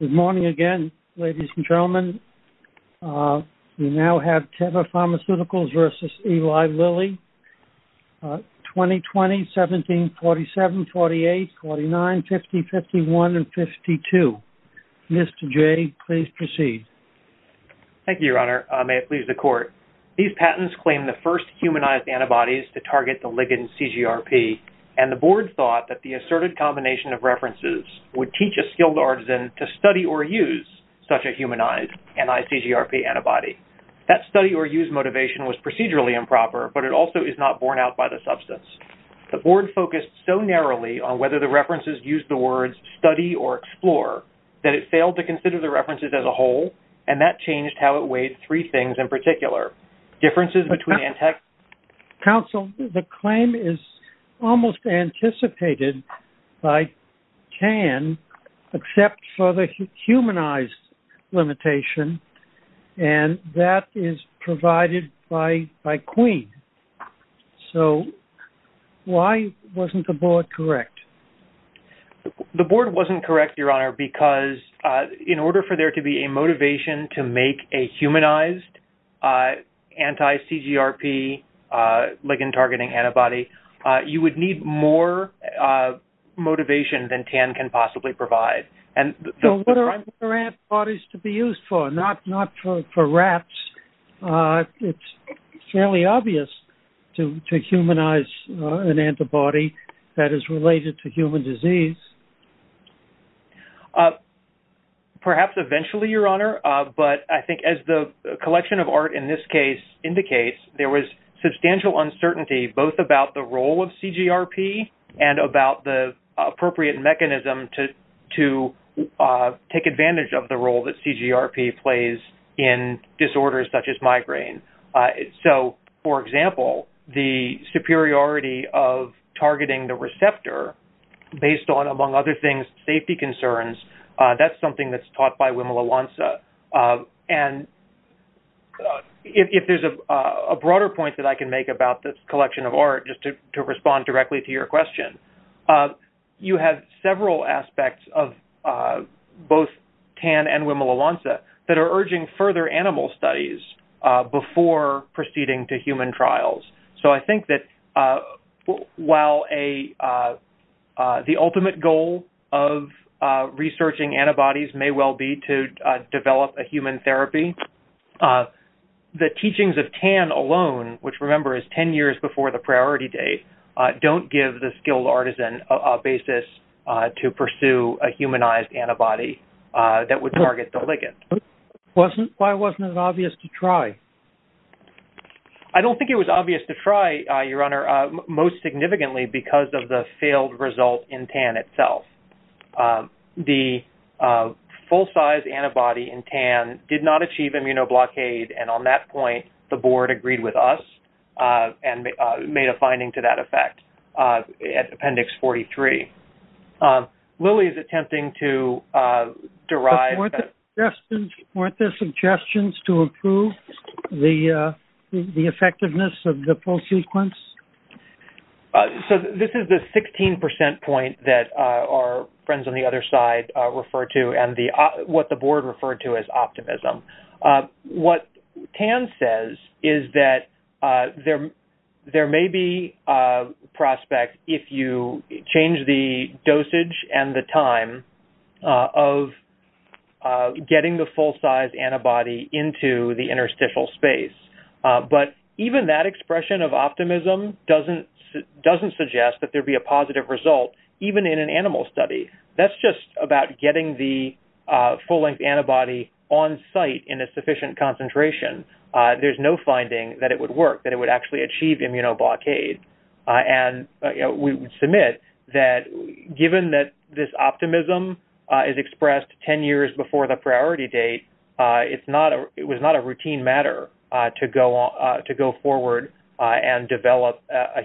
Good morning again ladies and gentlemen. We now have Teva Pharmaceuticals v. Eli Lilly. 2020, 17, 47, 48, 49, 50, 51, and 52. Mr. Jay, please proceed. Thank you, Your Honor. May it please the Court. These patents claim the first humanized antibodies to target the ligand CGRP and the board thought that the asserted combination of references would teach a skilled artisan to study or use such a humanized NICGRP antibody. That study or use motivation was procedurally improper but it also is not borne out by the substance. The board focused so narrowly on whether the references used the words study or explore that it failed to consider the references as a whole and that changed how it weighed three things in particular. Differences between... Counsel, the claim is almost anticipated by CAN except for the humanized limitation and that is provided by Queen. So why wasn't the board correct? The board wasn't correct, Your Honor, because in order for there to be a motivation to make a humanized anti-CGRP ligand targeting antibody, you would need more motivation than CAN can possibly provide. And so what are antibodies to be used for? Not for rats. It's fairly obvious to humanize an antibody that is related to human disease. Perhaps eventually, Your Honor, but I think as the collection of art in this case indicates, there was substantial uncertainty both about the role of CGRP and about the appropriate mechanism to take advantage of the role that CGRP plays in disorders such as migraine. So for example, the superiority of targeting the receptor based on, among other things, safety concerns, that's something that's been raised by Wimola-Lanza. And if there's a broader point that I can make about this collection of art, just to respond directly to your question, you have several aspects of both CAN and Wimola-Lanza that are urging further animal studies before proceeding to human trials. So I think that while the Wimola-Lanza is a great way to develop a human therapy, the teachings of CAN alone, which remember is 10 years before the priority date, don't give the skilled artisan a basis to pursue a humanized antibody that would target the ligand. Why wasn't it obvious to try? I don't think it was obvious to try, Your Honor, most significantly because of the failed result in CAN itself. The full size antibody in CAN did not achieve immunoblockade, and on that point the board agreed with us and made a finding to that effect at Appendix 43. Lily is attempting to derive... Weren't there suggestions to improve the effectiveness of the pulse sequence? So this is the 16% point that our friends on the other side refer to and what the board referred to as optimism. What CAN says is that there may be a prospect if you change the dosage and the time of getting the full-size antibody into the interstitial space, but even that expression of optimism doesn't suggest that there be a positive result even in an animal study. That's just about getting the full-length antibody on site in a sufficient concentration. There's no finding that it would work, that it would actually achieve immunoblockade, and we would submit that given that this optimism is expressed 10 years before the priority date, it was not a routine matter to go forward and develop a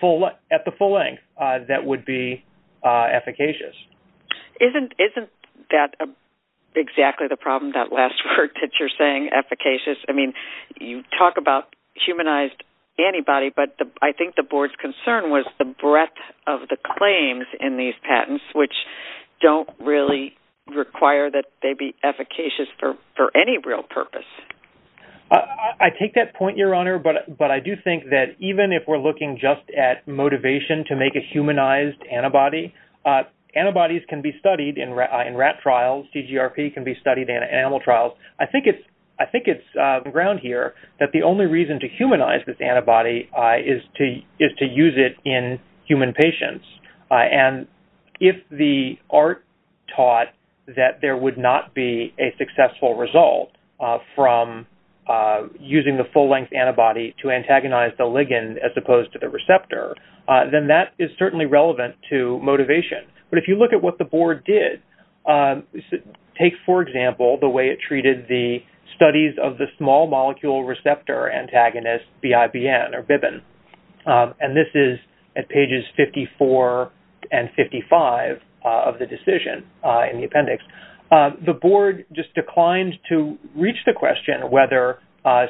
full-length that would be efficacious. Isn't that exactly the problem, that last word that you're saying, efficacious? I mean, you talk about humanized antibody, but I think the board's concern was the breadth of the claims in these patents, which don't really require that they be efficacious for any real purpose. I take that point, Your Honor, but I do think that even if we're looking just at motivation to make a humanized antibody, antibodies can be studied in rat trials, CGRP can be studied in animal trials. I think it's ground here that the only reason to humanize this antibody is to use it in human patients, and if the art taught that there would not be a successful result from using the full-length antibody to antagonize the receptor, then that is certainly relevant to motivation. But if you look at what the board did, take for example the way it treated the studies of the small molecule receptor antagonist, BIBN, and this is at pages 54 and 55 of the decision in the appendix. The board just declined to reach the question whether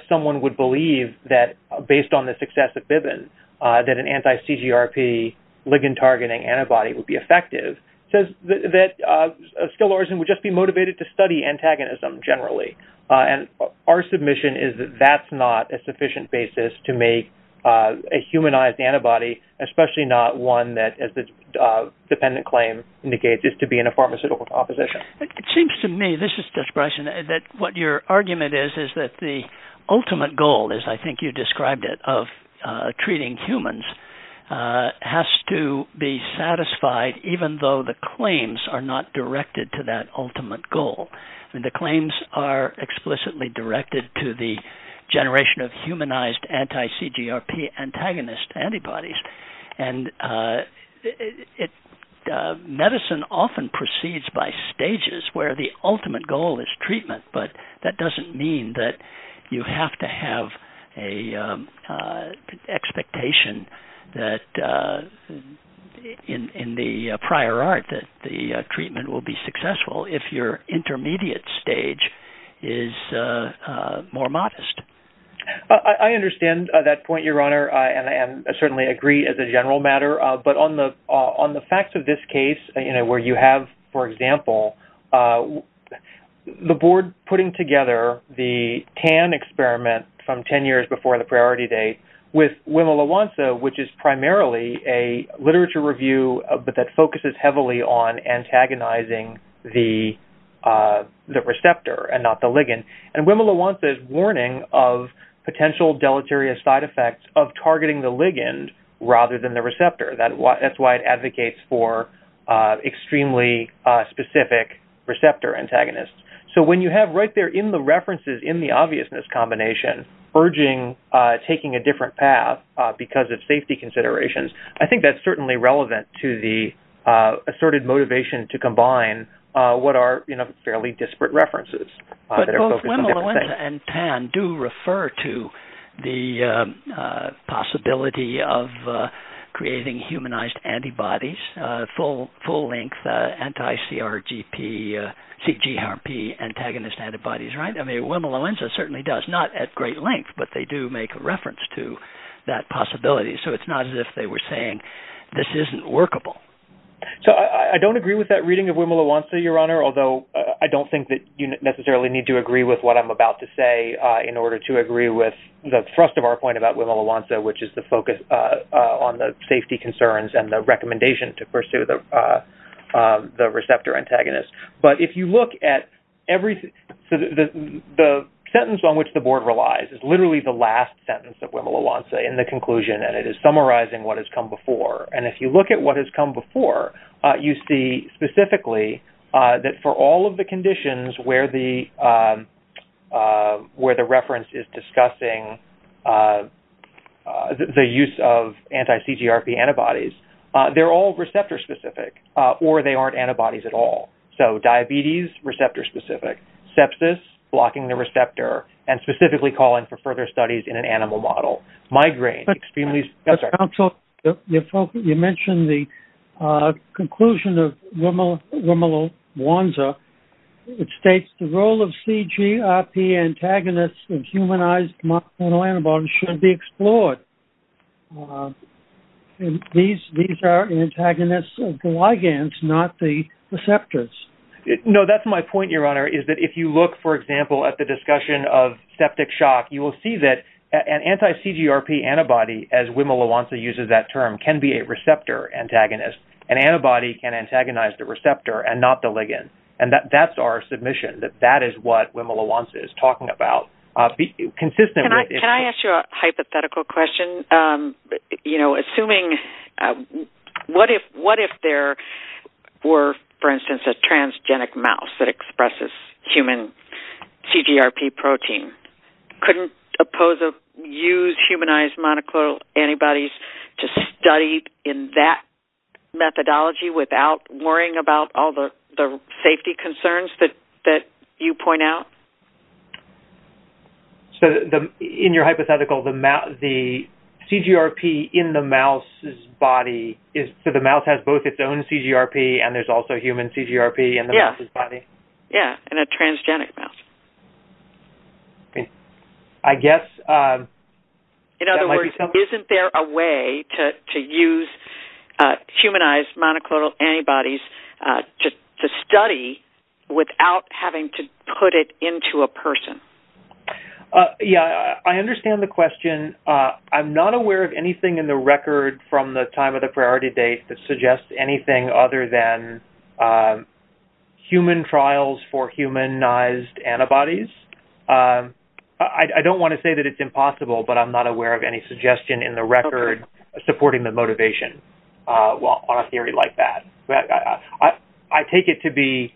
someone would believe that, based on the success of BIBN, that an anti-CGRP ligand-targeting antibody would be effective. It says that a skill origin would just be motivated to study antagonism generally, and our submission is that that's not a sufficient basis to make a humanized antibody, especially not one that, as the dependent claim indicates, is to be in a pharmaceutical composition. It seems to me, this is Judge Bryson, that what your saying is that the ultimate goal, as I think you described it, of treating humans has to be satisfied even though the claims are not directed to that ultimate goal. I mean, the claims are explicitly directed to the generation of humanized anti-CGRP antagonist antibodies, and medicine often proceeds by stages where the ultimate goal is treatment, but that doesn't mean that you have to have an expectation that, in the prior art, that the treatment will be successful if your intermediate stage is more modest. I understand that point, Your Honor, and I certainly agree as a general matter, but on the facts of this case, you know, where you have, for example, the board putting together the TAN experiment from 10 years before the priority date with Wimowawansa, which is primarily a literature review, but that focuses heavily on antagonizing the receptor and not the ligand, and Wimowawansa's warning of potential deleterious side effects of targeting the ligand rather than the receptor. That's why it advocates for extremely specific receptor antagonists. So when you have right there in the references, in the obviousness combination, urging, taking a different path because of safety considerations, I think that's certainly relevant to the asserted motivation to combine what are, you know, fairly disparate references. Wimowawansa and TAN do refer to the possibility of creating humanized antibodies, full-length anti-CRGP, CGRP antagonist antibodies, right? I mean, Wimowawansa certainly does, not at great length, but they do make a reference to that possibility. So it's not as if they were saying this isn't workable. So I don't agree with that reading of Wimowawansa, Your Honor, although I don't think that you necessarily need to agree with what I'm about to say in order to agree with the thrust of our point about Wimowawansa, which is the focus on the safety concerns and the recommendation to pursue the receptor antagonist. But if you look at every, the sentence on which the board relies is literally the last sentence of Wimowawansa in the conclusion, and it is summarizing what has come before. And if you look at what has come before, you see specifically that for all of the conditions where the reference is discussing the use of anti-CGRP antibodies, they're all receptor-specific or they aren't antibodies at all. So diabetes, receptor-specific. Sepsis, blocking the receptor, and specifically calling for further studies in an animal model. Migraine, extremely... But counsel, you mentioned the conclusion of Wimowawansa. It states the role of CGRP antagonists in humanized monoclonal antibodies should be explored. These are antagonists of the ligands, not the receptors. No, that's my point, Your Honor, is that if you look, for example, at the discussion of septic shock, you will see that an anti-CGRP antibody, as Wimowawansa uses that term, can be a receptor antagonist. An antibody can antagonize the receptor and not the ligand. And that's our submission, that that is what Wimowawansa is talking about. Consistently... Can I ask you a hypothetical question? You know, assuming... What if there were, for instance, a transgenic mouse that expresses human CGRP protein? Couldn't use humanized monoclonal antibodies to study in that methodology without worrying about all the safety concerns that you point out? So in your hypothetical, the CGRP in the mouse's body is... So the mouse has both its own CGRP and there's also human CGRP in the mouse's body? Yeah, in a transgenic mouse. I guess... In other words, isn't there a way to use humanized monoclonal antibodies to study without having to put it into a person? Yeah, I understand the question. I'm not aware of anything in the record from the time of the priority date that suggests anything other than human trials for humanized antibodies. I don't want to say that it's impossible, but I'm not aware of any suggestion in the record supporting the motivation on a theory like that. I take it to be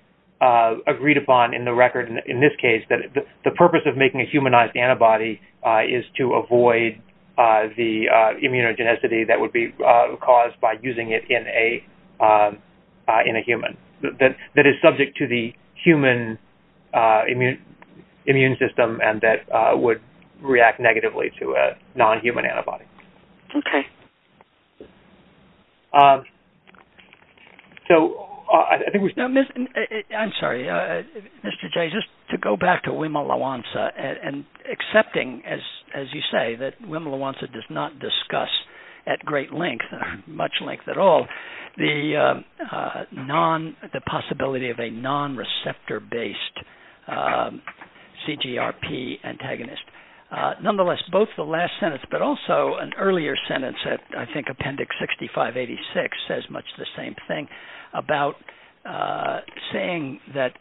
agreed upon in the record in this case that the purpose of making a humanized antibody is to avoid the immunogenicity that would be caused by using it in a human, that is subject to the immune system and that would react negatively to a non-human antibody. Okay. So I think... I'm sorry, Mr. Jay, just to go back to Wimowansa and accepting, as you say, that Wimowansa does not discuss at great length, much length at all, the possibility of a non-receptor-based CGRP antagonist. Nonetheless, both the last sentence, but also an earlier sentence, I think Appendix 6586, says much the same thing about saying that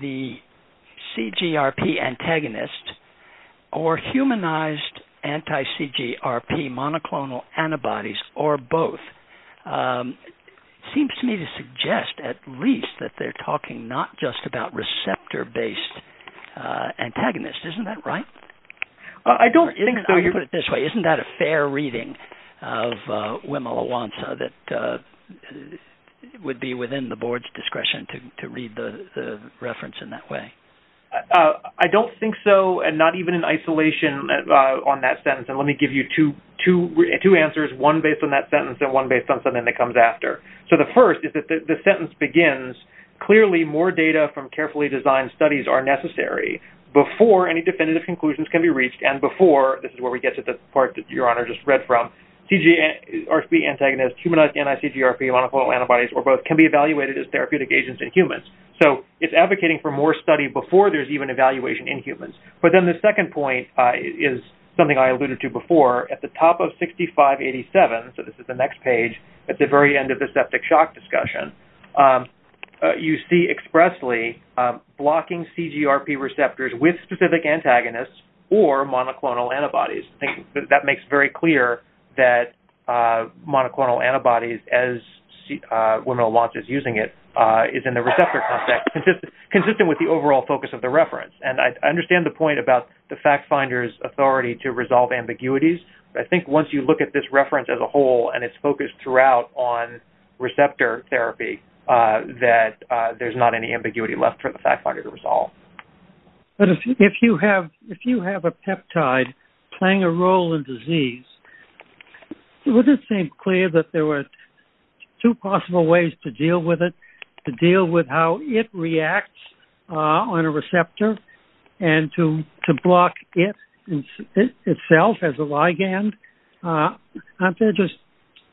the CGRP antagonist or both seems to me to suggest at least that they're talking not just about receptor-based antagonists. Isn't that right? I don't think so. I'll put it this way, isn't that a fair reading of Wimowansa that would be within the board's discretion to read the reference in that way? I don't think so, and not even in isolation on that sentence, and let me give you two answers, one based on that sentence and one based on something that comes after. So the first is that the sentence begins, clearly more data from carefully designed studies are necessary before any definitive conclusions can be reached, and before, this is where we get to the part that Your Honor just read from, RCB antagonists, humanized NICGRP monoclonal antibodies, or both, can be evaluated as therapeutic agents in humans. So it's advocating for more study before there's even evaluation in humans. But then the second point is something I this is the next page, at the very end of the septic shock discussion, you see expressly blocking CGRP receptors with specific antagonists or monoclonal antibodies. I think that makes very clear that monoclonal antibodies, as Wimowansa is using it, is in the receptor context, consistent with the overall focus of the reference. And I understand the point about the FactFinder's authority to resolve ambiguities, but I think once you look at this reference as a whole, and it's focused throughout on receptor therapy, that there's not any ambiguity left for the FactFinder to resolve. But if you have a peptide playing a role in disease, would it seem clear that there were two possible ways to deal with it, to deal with how it reacts on a receptor? Aren't there just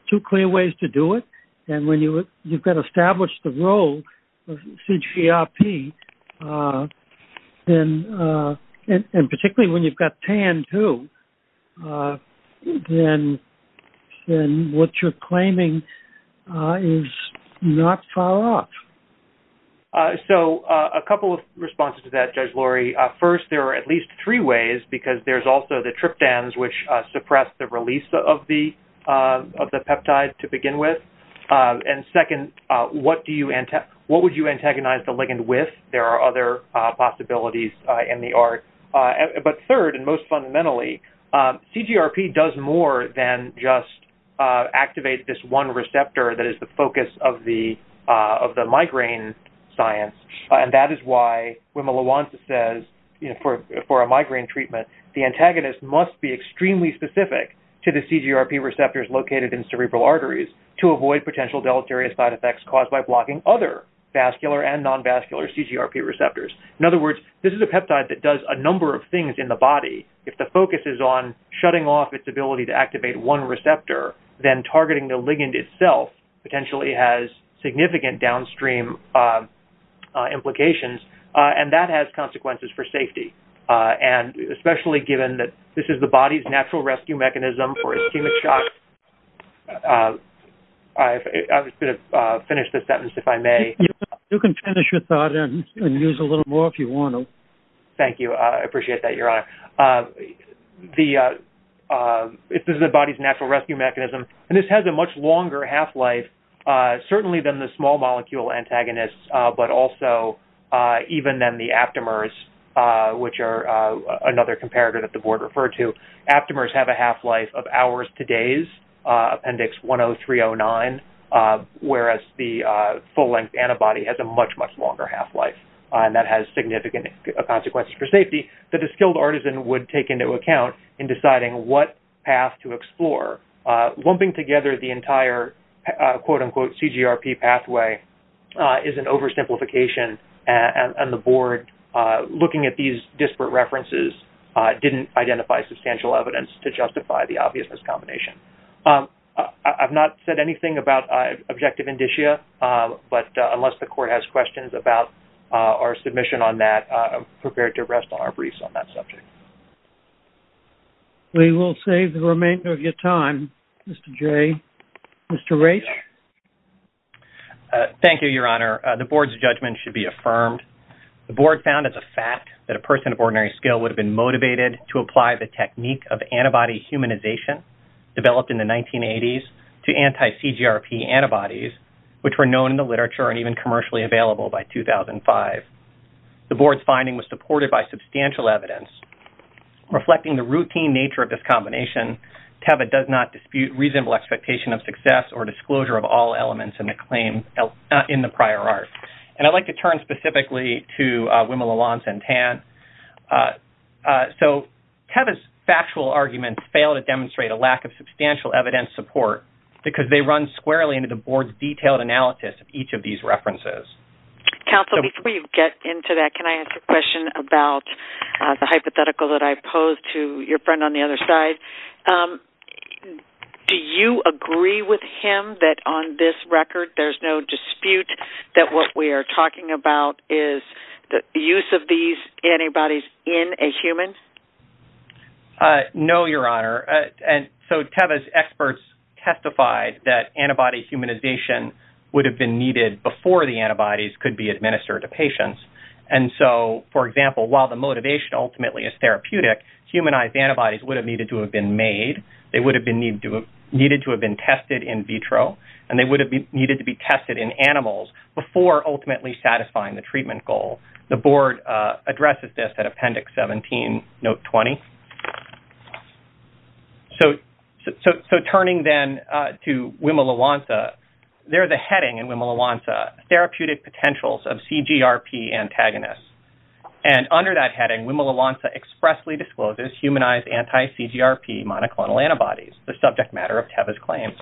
two clear ways to do it? And when you've got established the role of CGRP, and particularly when you've got TAN too, then what you're claiming is not far off. So a couple of responses to that, Judge Lori. First, there are at least three ways, because there's also the tryptans which suppress the release of the peptide to begin with. And second, what would you antagonize the ligand with? There are other possibilities in the art. But third, and most fundamentally, CGRP does more than just activate this one receptor that is the focus of the migraine science. And that is why Wimowansa says, for a migraine treatment, the antagonist must be extremely specific to the CGRP receptors located in cerebral arteries to avoid potential deleterious side effects caused by blocking other vascular and non-vascular CGRP receptors. In other words, this is a peptide that does a number of things in the body. If the focus is on shutting off its ability to activate one receptor, then targeting the ligand itself potentially has significant downstream implications, and that has consequences for safety. And especially given that this is the body's natural rescue mechanism for ischemic shock. I was going to finish the sentence, if I may. You can finish your thought and use a little more if you want to. Thank you. I appreciate that, Your Honor. This is the body's natural rescue mechanism, and this has a much longer half-life, certainly than the small molecule antagonists, but also even than the aptamers, which are another comparator that the board referred to. Aptamers have a half-life of hours to days, Appendix 10309, whereas the full-length antibody has a much, much longer half-life, and that has significant consequences for safety that a skilled artisan would take into account in deciding what path to explore. Lumping together the entire, quote-unquote, CGRP pathway is an didn't identify substantial evidence to justify the obvious miscombination. I've not said anything about objective indicia, but unless the court has questions about our submission on that, I'm prepared to rest on our briefs on that subject. We will save the remainder of your time, Mr. J. Mr. Raich? Thank you, Your Honor. The board's judgment should be affirmed. The board found as a fact that a person of ordinary skill would have been motivated to apply the technique of antibody humanization developed in the 1980s to anti-CGRP antibodies, which were known in the literature and even commercially available by 2005. The board's finding was supported by substantial evidence. Reflecting the routine nature of this combination, TEVA does not dispute reasonable expectation of success or disclosure of all elements in the prior art. And I'd like to turn specifically to Wimela Lanz and Tan. So TEVA's factual arguments fail to demonstrate a lack of substantial evidence support because they run squarely into the board's detailed analysis of each of these references. Counsel, before you get into that, can I ask a question about the hypothetical that I posed to your friend on the other side? Do you agree with him that on this record, there's no dispute that what we are talking about is the use of these antibodies in a human? No, Your Honor. And so TEVA's experts testified that antibody humanization would have been needed before the antibodies could be administered to patients. And so, for example, while the motivation ultimately is therapeutic, humanized antibodies would have needed to have been made, they would have been needed to have been tested in vitro, and they would have needed to be tested in animals before ultimately satisfying the treatment goal. The board addresses this at Appendix 17, Note 20. So turning then to Wimela Lanz, there's a heading in Wimela Lanz, Therapeutic Potentials of CGRP Antagonists. And under that heading, there's anti-CGRP monoclonal antibodies, the subject matter of TEVA's claims.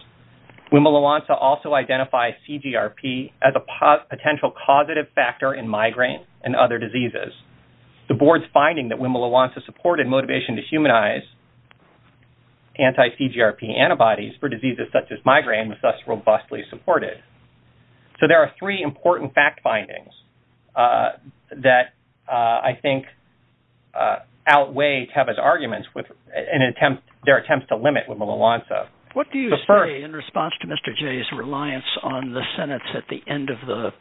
Wimela Lanz also identifies CGRP as a potential causative factor in migraine and other diseases. The board's finding that Wimela Lanz's support and motivation to humanize anti-CGRP antibodies for diseases such as migraine was thus robustly supported. So there are three important fact findings that I have as arguments with an attempt, their attempts to limit Wimela Lanz. What do you say in response to Mr. Jay's reliance on the sentence at the end of the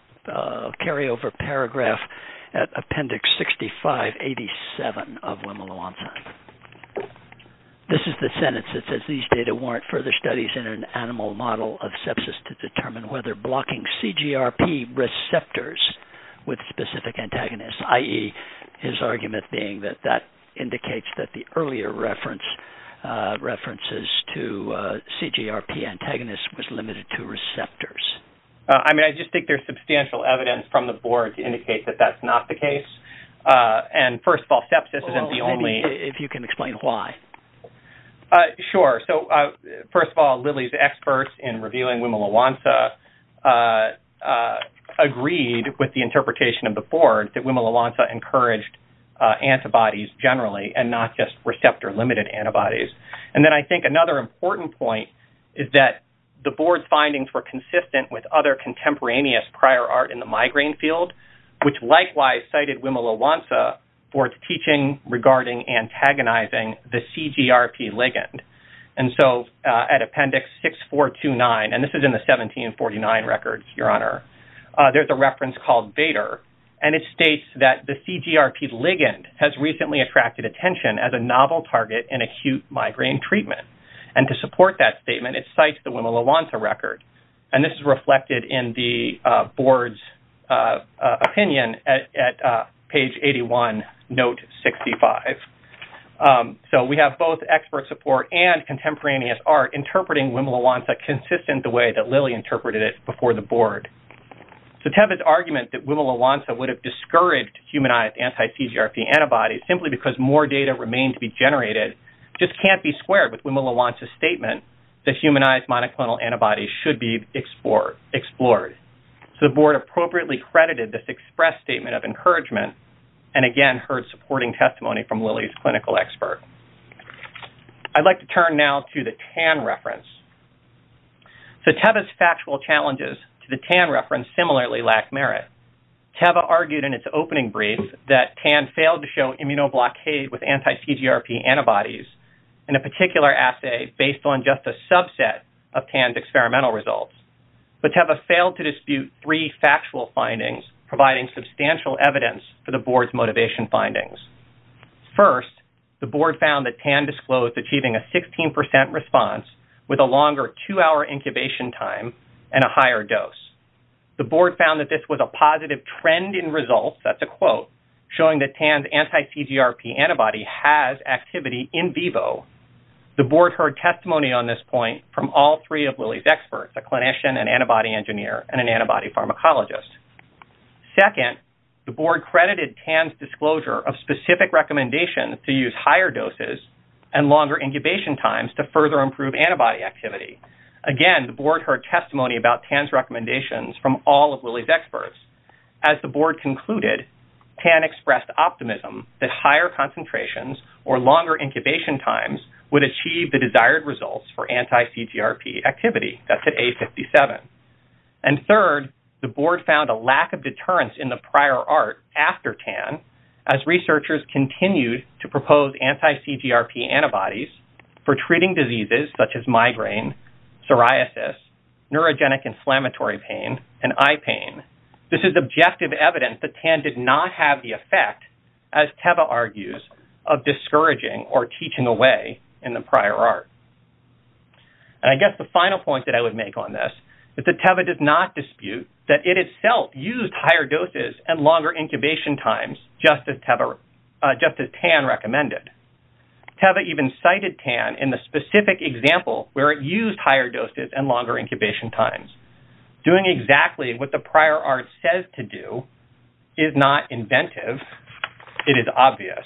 carryover paragraph at Appendix 6587 of Wimela Lanz? This is the sentence that says, these data warrant further studies in an animal model of sepsis to determine whether blocking CGRP receptors with specific antagonists, i.e., his argument being that that indicates that the earlier references to CGRP antagonists was limited to receptors. I mean, I just think there's substantial evidence from the board to indicate that that's not the case. And first of all, sepsis isn't the only... If you can explain why. Sure. So first of all, Lily's experts in revealing Wimela Lanz agreed with the interpretation of the board that Wimela Lanz encouraged antibodies generally and not just receptor-limited antibodies. And then I think another important point is that the board's findings were consistent with other contemporaneous prior art in the migraine field, which likewise cited Wimela Lanz for its teaching regarding antagonizing the CGRP ligand. And so at Appendix 6429, and this is in the 1749 records, Your Honor, there's a reference called Bader, and it states that the CGRP ligand has recently attracted attention as a novel target in acute migraine treatment. And to support that statement, it cites the Wimela Lanz record. And this is reflected in the board's opinion at page 81, note 65. So we have both expert support and contemporaneous art interpreting Wimela Lanz consistent the way that Lily interpreted it before the board. So Teva's argument that Wimela Lanz would have discouraged humanized anti-CGRP antibodies simply because more data remained to be generated just can't be squared with Wimela Lanz's statement that humanized monoclonal antibodies should be explored. So the board appropriately credited this express statement of encouragement and again heard supporting testimony from Lily's clinical expert. I'd like to turn now to the TAN reference. So Teva's factual challenges to the TAN reference similarly lack merit. Teva argued in its opening brief that TAN failed to show immunoblockade with anti-CGRP antibodies in a particular assay based on just a subset of TAN's experimental results. But Teva failed to dispute three factual findings providing substantial evidence for the board's motivation findings. First, the board found that TAN disclosed achieving a 16% response with a longer two-hour incubation time and a higher dose. The board found that this was a positive trend in results, that's a quote, showing that TAN's anti-CGRP antibody has activity in vivo. The board heard testimony on this point from all three of Lily's experts, a clinician, an antibody engineer, and an antibody pharmacologist. Second, the board credited TAN's disclosure of specific recommendations to use higher doses and longer incubation times to further improve antibody activity. Again, the board heard testimony about TAN's recommendations from all of Lily's experts. As the board concluded, TAN expressed optimism that higher concentrations or longer incubation times would achieve the desired results for anti-CGRP activity, that's at A57. And third, the board found a lack of deterrence in the prior art after TAN as researchers continued to propose anti-CGRP antibodies for treating diseases such as migraine, psoriasis, neurogenic inflammatory pain, and eye pain. This is objective evidence that TAN did not have the effect, as Teva argues, of discouraging or teaching away in the prior art. And I guess the Tava does not dispute that it itself used higher doses and longer incubation times, just as TAN recommended. Teva even cited TAN in the specific example where it used higher doses and longer incubation times. Doing exactly what the prior art says to do is not inventive. It is obvious.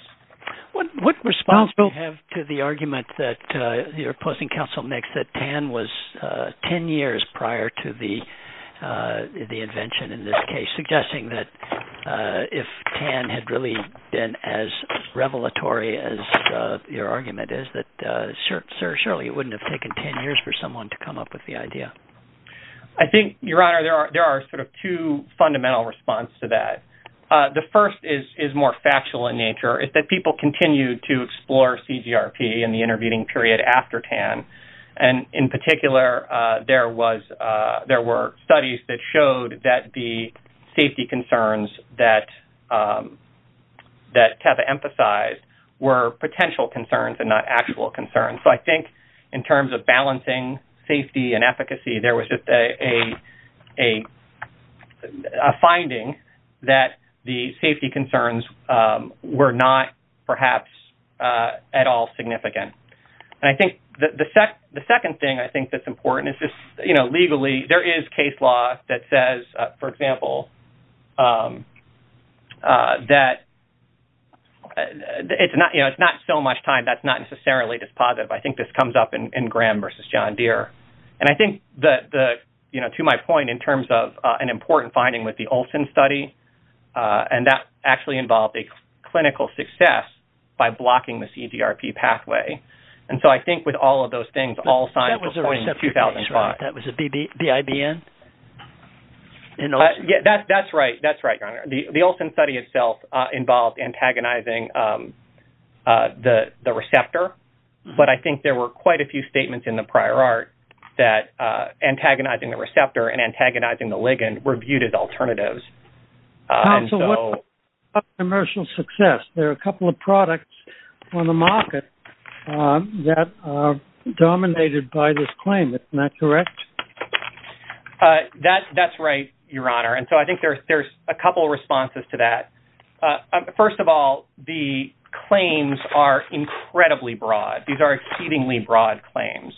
What response do you have to the argument that the opposing council makes that TAN was 10 years prior to the invention in this case, suggesting that if TAN had really been as revelatory as your argument is, that certainly it wouldn't have taken 10 years for someone to come up with the idea? I think, Your Honor, there are sort of two fundamental response to that. The first is more factual in nature, is that people continue to explore CGRP in the past. In particular, there were studies that showed that the safety concerns that Teva emphasized were potential concerns and not actual concerns. So I think, in terms of balancing safety and efficacy, there was just a finding that the safety concerns were not, perhaps, at all significant. I think the second thing I think that's important is just, you know, legally, there is case law that says, for example, that it's not so much time that's not necessarily dispositive. I think this comes up in Graham v. John Deere. And I think that, you know, to my point, in terms of an important finding with the Olson study, and that actually involved a clinical success by blocking the CGRP pathway. And so I think, with all of those things, all signs of 2005. That was a receptor case, right? That was a BIBN in Olson? Yeah, that's right. That's right, Your Honor. The Olson study itself involved antagonizing the receptor. But I think there were quite a few statements in the prior art that antagonizing the receptor and antagonizing the ligand were viewed as alternatives. So what about commercial success? There are a couple of products on the market that are dominated by this claim. Isn't that correct? That's right, Your Honor. And so I think there's a couple of responses to that. First of all, the claims are incredibly broad. These are exceedingly broad claims.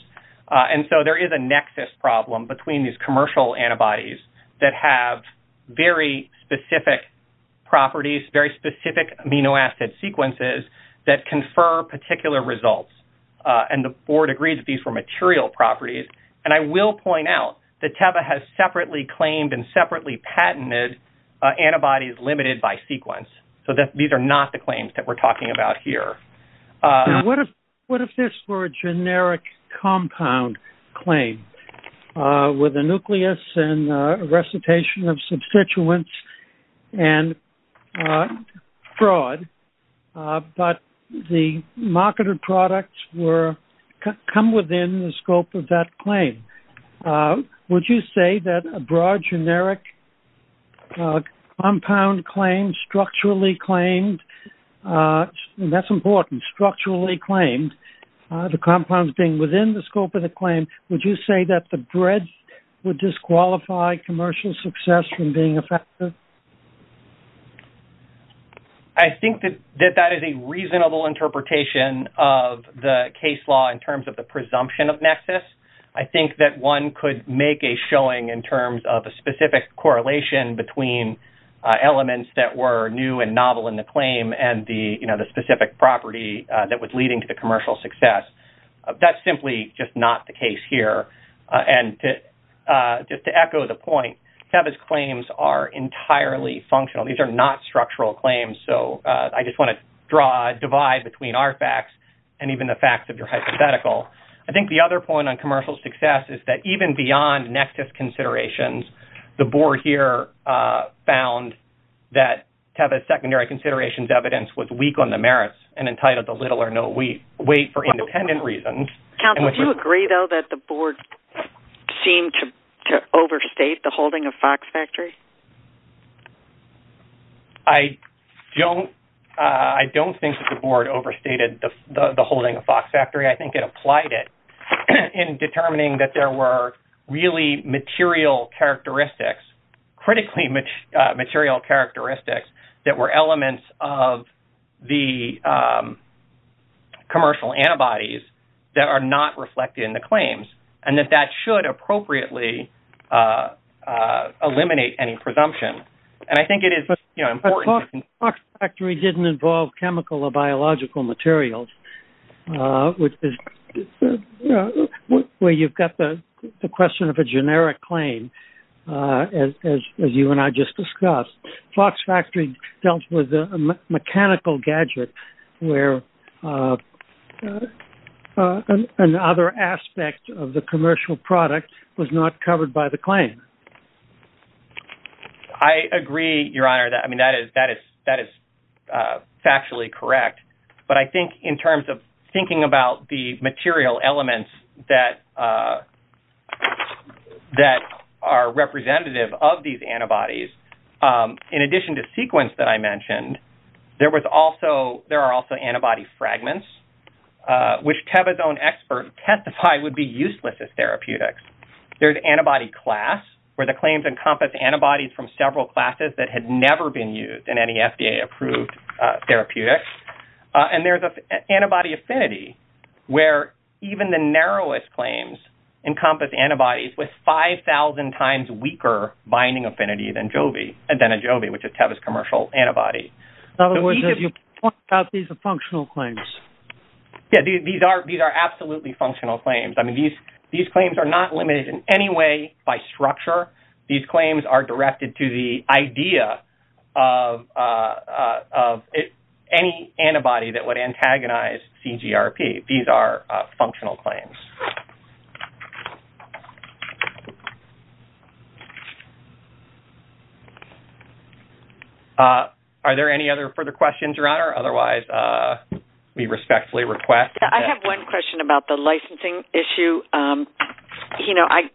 And so there is a nexus problem between these commercial antibodies that have very specific properties, very specific amino acid sequences, that confer particular results. And the Board agrees that these were material properties. And I will point out that Teva has separately claimed and separately patented antibodies limited by sequence. So these are not the claims that we're talking about here. What if this were a generic compound claim with a nucleus and recitation of substituents and fraud, but the marketed products come within the scope of that claim? Would you say that a broad generic compound claim, structurally claimed, and that's important, structurally claimed, the compounds being within the scope of the claim, would you say that the breadth would disqualify commercial success from being effective? I think that that is a reasonable interpretation of the case law in terms of the presumption of nexus. I think that one could make a showing in terms of a novel in the claim and the specific property that was leading to the commercial success. That's simply just not the case here. And just to echo the point, Teva's claims are entirely functional. These are not structural claims. So I just want to draw a divide between our facts and even the facts of your hypothetical. I think the other point on commercial success is that even beyond nexus considerations, the board here found that Teva's secondary considerations evidence was weak on the merits and entitled to little or no weight for independent reasons. Counsel, do you agree, though, that the board seemed to overstate the holding of Fox Factory? I don't. I don't think that the board overstated the holding of Fox Factory. I think determining that there were really material characteristics, critically material characteristics that were elements of the commercial antibodies that are not reflected in the claims, and that that should appropriately eliminate any presumption. And I think it is important. Fox Factory didn't involve chemical or biological materials, which is where you've got the question of a generic claim. As you and I just discussed, Fox Factory dealt with a mechanical gadget where another aspect of the commercial product was not covered by the claim. I agree, Your Honor, that I mean, that is that is that is factually correct. But I think in terms of thinking about the material elements that that are representative of these antibodies, in addition to sequence that I mentioned, there was also there are also antibody fragments, which Teva's own expert testified would be useless as therapeutics. There's antibody class, which where the claims encompass antibodies from several classes that had never been used in any FDA approved therapeutics. And there's an antibody affinity where even the narrowest claims encompass antibodies with 5000 times weaker binding affinity than Joby and then a Joby, which is Teva's commercial antibody. In other words, if you point out these are functional claims. Yeah, these are these are absolutely functional claims. I mean, these these these claims are directed to the idea of of any antibody that would antagonize CGRP. These are functional claims. Are there any other further questions, Your Honor? Otherwise, we respectfully request. I have one question about the licensing issue. You know, I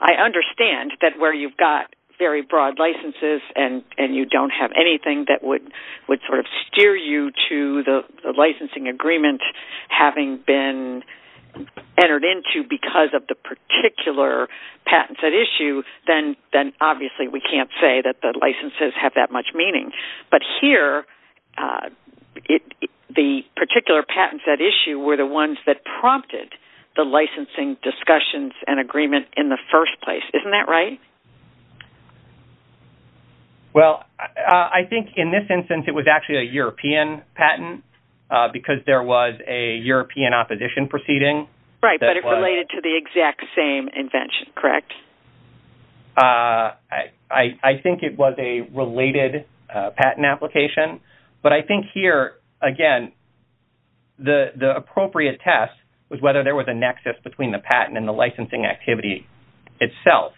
I understand that where you've got very broad licenses and and you don't have anything that would would sort of steer you to the licensing agreement, having been entered into because of the particular patents at issue, then then obviously we can't say that the licenses have that much meaning. But here it the particular patents at issue were the ones that prompted the licensing discussions and the first place. Isn't that right? Well, I think in this instance, it was actually a European patent because there was a European opposition proceeding. Right, but it related to the exact same invention, correct? I think it was a related patent application. But I think here again, the appropriate test was whether there was a nexus between the patent and the itself.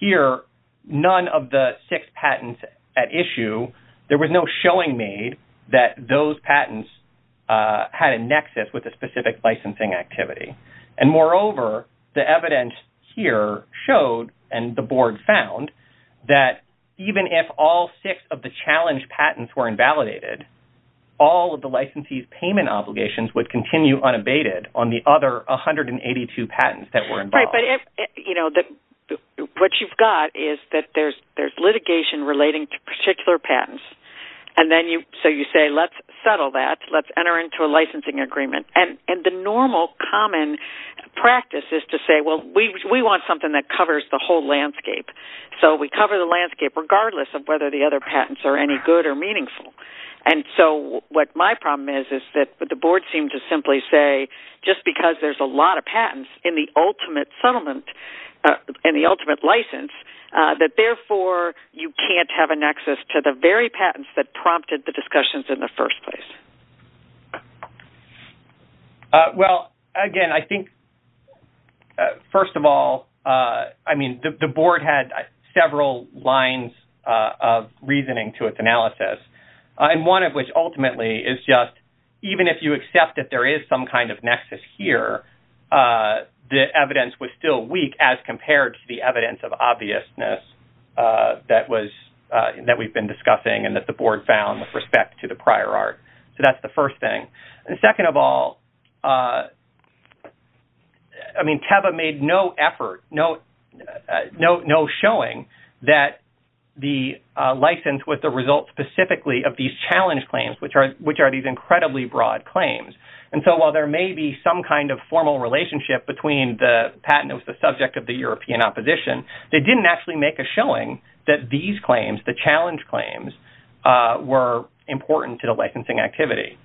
Here, none of the six patents at issue. There was no showing made that those patents had a nexus with a specific licensing activity. And moreover, the evidence here showed and the board found that even if all six of the challenge patents were invalidated, all of the licensees payment obligations would continue unabated on the other 182 patents that were involved. You know, what you've got is that there's litigation relating to particular patents. And then you say, let's settle that. Let's enter into a licensing agreement. And the normal common practice is to say, well, we want something that covers the whole landscape. So we cover the landscape regardless of whether the other patents are any good or meaningful. And so what my problem is, is that the board seemed to simply say, just because there's a ultimate settlement, and the ultimate license, that therefore, you can't have a nexus to the very patents that prompted the discussions in the first place. Well, again, I think, first of all, I mean, the board had several lines of reasoning to its analysis. And one of which ultimately is just, even if you say that the evidence was still weak, as compared to the evidence of obviousness that we've been discussing, and that the board found with respect to the prior art. So that's the first thing. And second of all, I mean, TEVA made no effort, no showing that the license was the result specifically of these challenge claims, which are these incredibly broad claims. And so while there may be some kind of formal relationship between the patent that was the subject of the European opposition, they didn't actually make a showing that these claims, the challenge claims, were important to the licensing activity.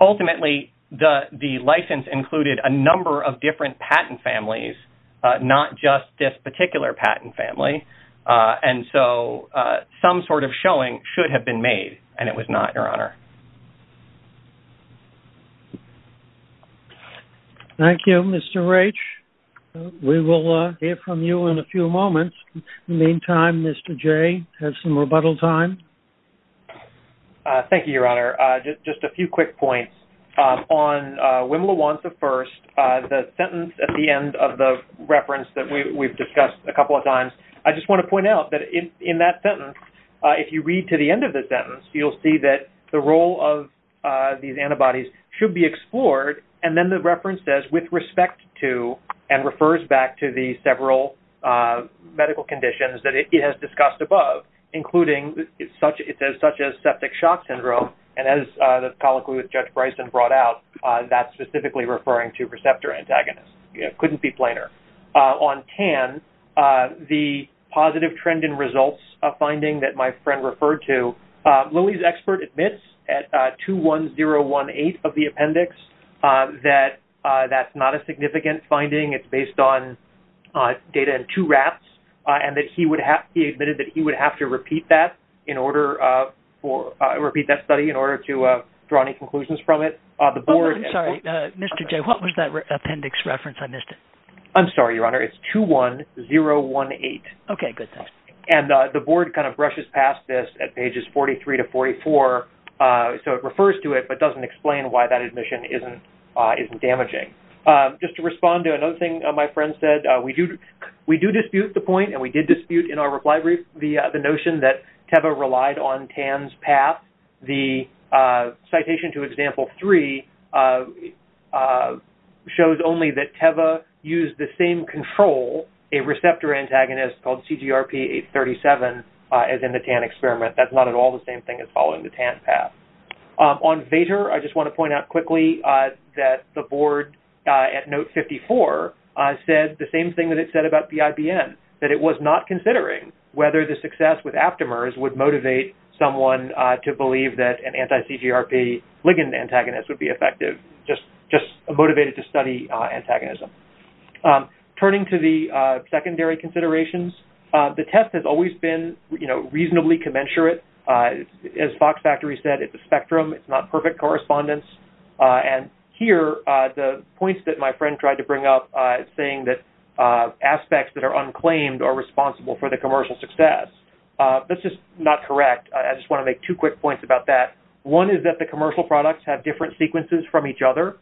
Ultimately, the license included a number of different patent families, not just this particular patent family. And so some sort of showing should have been made, and it was not, Your Honor. Thank you, Mr. Raich. We will hear from you in a few moments. In the meantime, Mr. Jay has some rebuttal time. Thank you, Your Honor. Just a few quick points. On Wim LaWance I, the sentence at the end of the reference that we've discussed a couple of times, I just want to point out that in that sentence, if you read to the end of the sentence, you'll see that the role of these antibodies should be explored. And then the reference says, with respect to, and refers back to the several medical conditions that it has discussed above, including, it says, such as septic shock syndrome. And as the colloquy with Judge Bryson brought out, that's specifically referring to receptor antagonists. It couldn't be plainer. On TAN, the positive trend in results, a finding that my friend referred to, Louie's expert admits at 21018 of the appendix, that that's not a significant finding. It's based on data in two rafts, and that he would have, he admitted that he would have to repeat that in order for, repeat that study in order to draw any conclusions from it. The board... I'm sorry, Mr. Jay, what was that appendix reference? I missed it. I'm sorry, Your Honor. It's 21018. Okay, good. And the board kind of brushes past this at pages 43 to 44. So it refers to it, but doesn't explain why that admission isn't damaging. Just to respond to another thing my friend said, we do dispute the point, and we did dispute in our reply brief, the notion that TEVA relied on TAN's path. The citation to example three shows only that TEVA used the same control, a TAN experiment. It's called CGRP 837, as in the TAN experiment. That's not at all the same thing as following the TAN path. On VATER, I just want to point out quickly that the board at note 54 said the same thing that it said about the IBM, that it was not considering whether the success with aptamers would motivate someone to believe that an anti-CGRP ligand antagonist would be effective, just motivated to study antagonism. Turning to the secondary considerations, the test has always been, you know, reasonably commensurate. As Fox Factory said, it's a spectrum. It's not perfect correspondence. And here, the points that my friend tried to bring up saying that aspects that are unclaimed are responsible for the commercial success. That's just not correct. I just want to make two quick points about that. One is that the commercial products have different sequences from each other,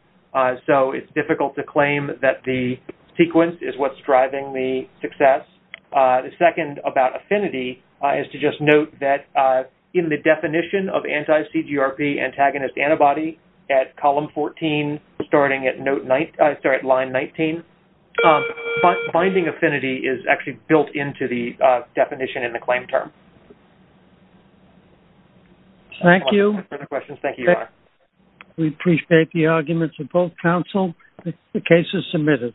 so it's difficult to claim that the sequence is what's driving the success. The second about affinity is to just note that in the definition of anti-CGRP antagonist antibody at column 14, starting at line 19, binding affinity is actually built into the definition in the claim term. Thank you. We appreciate the arguments of both counsel. The case is submitted.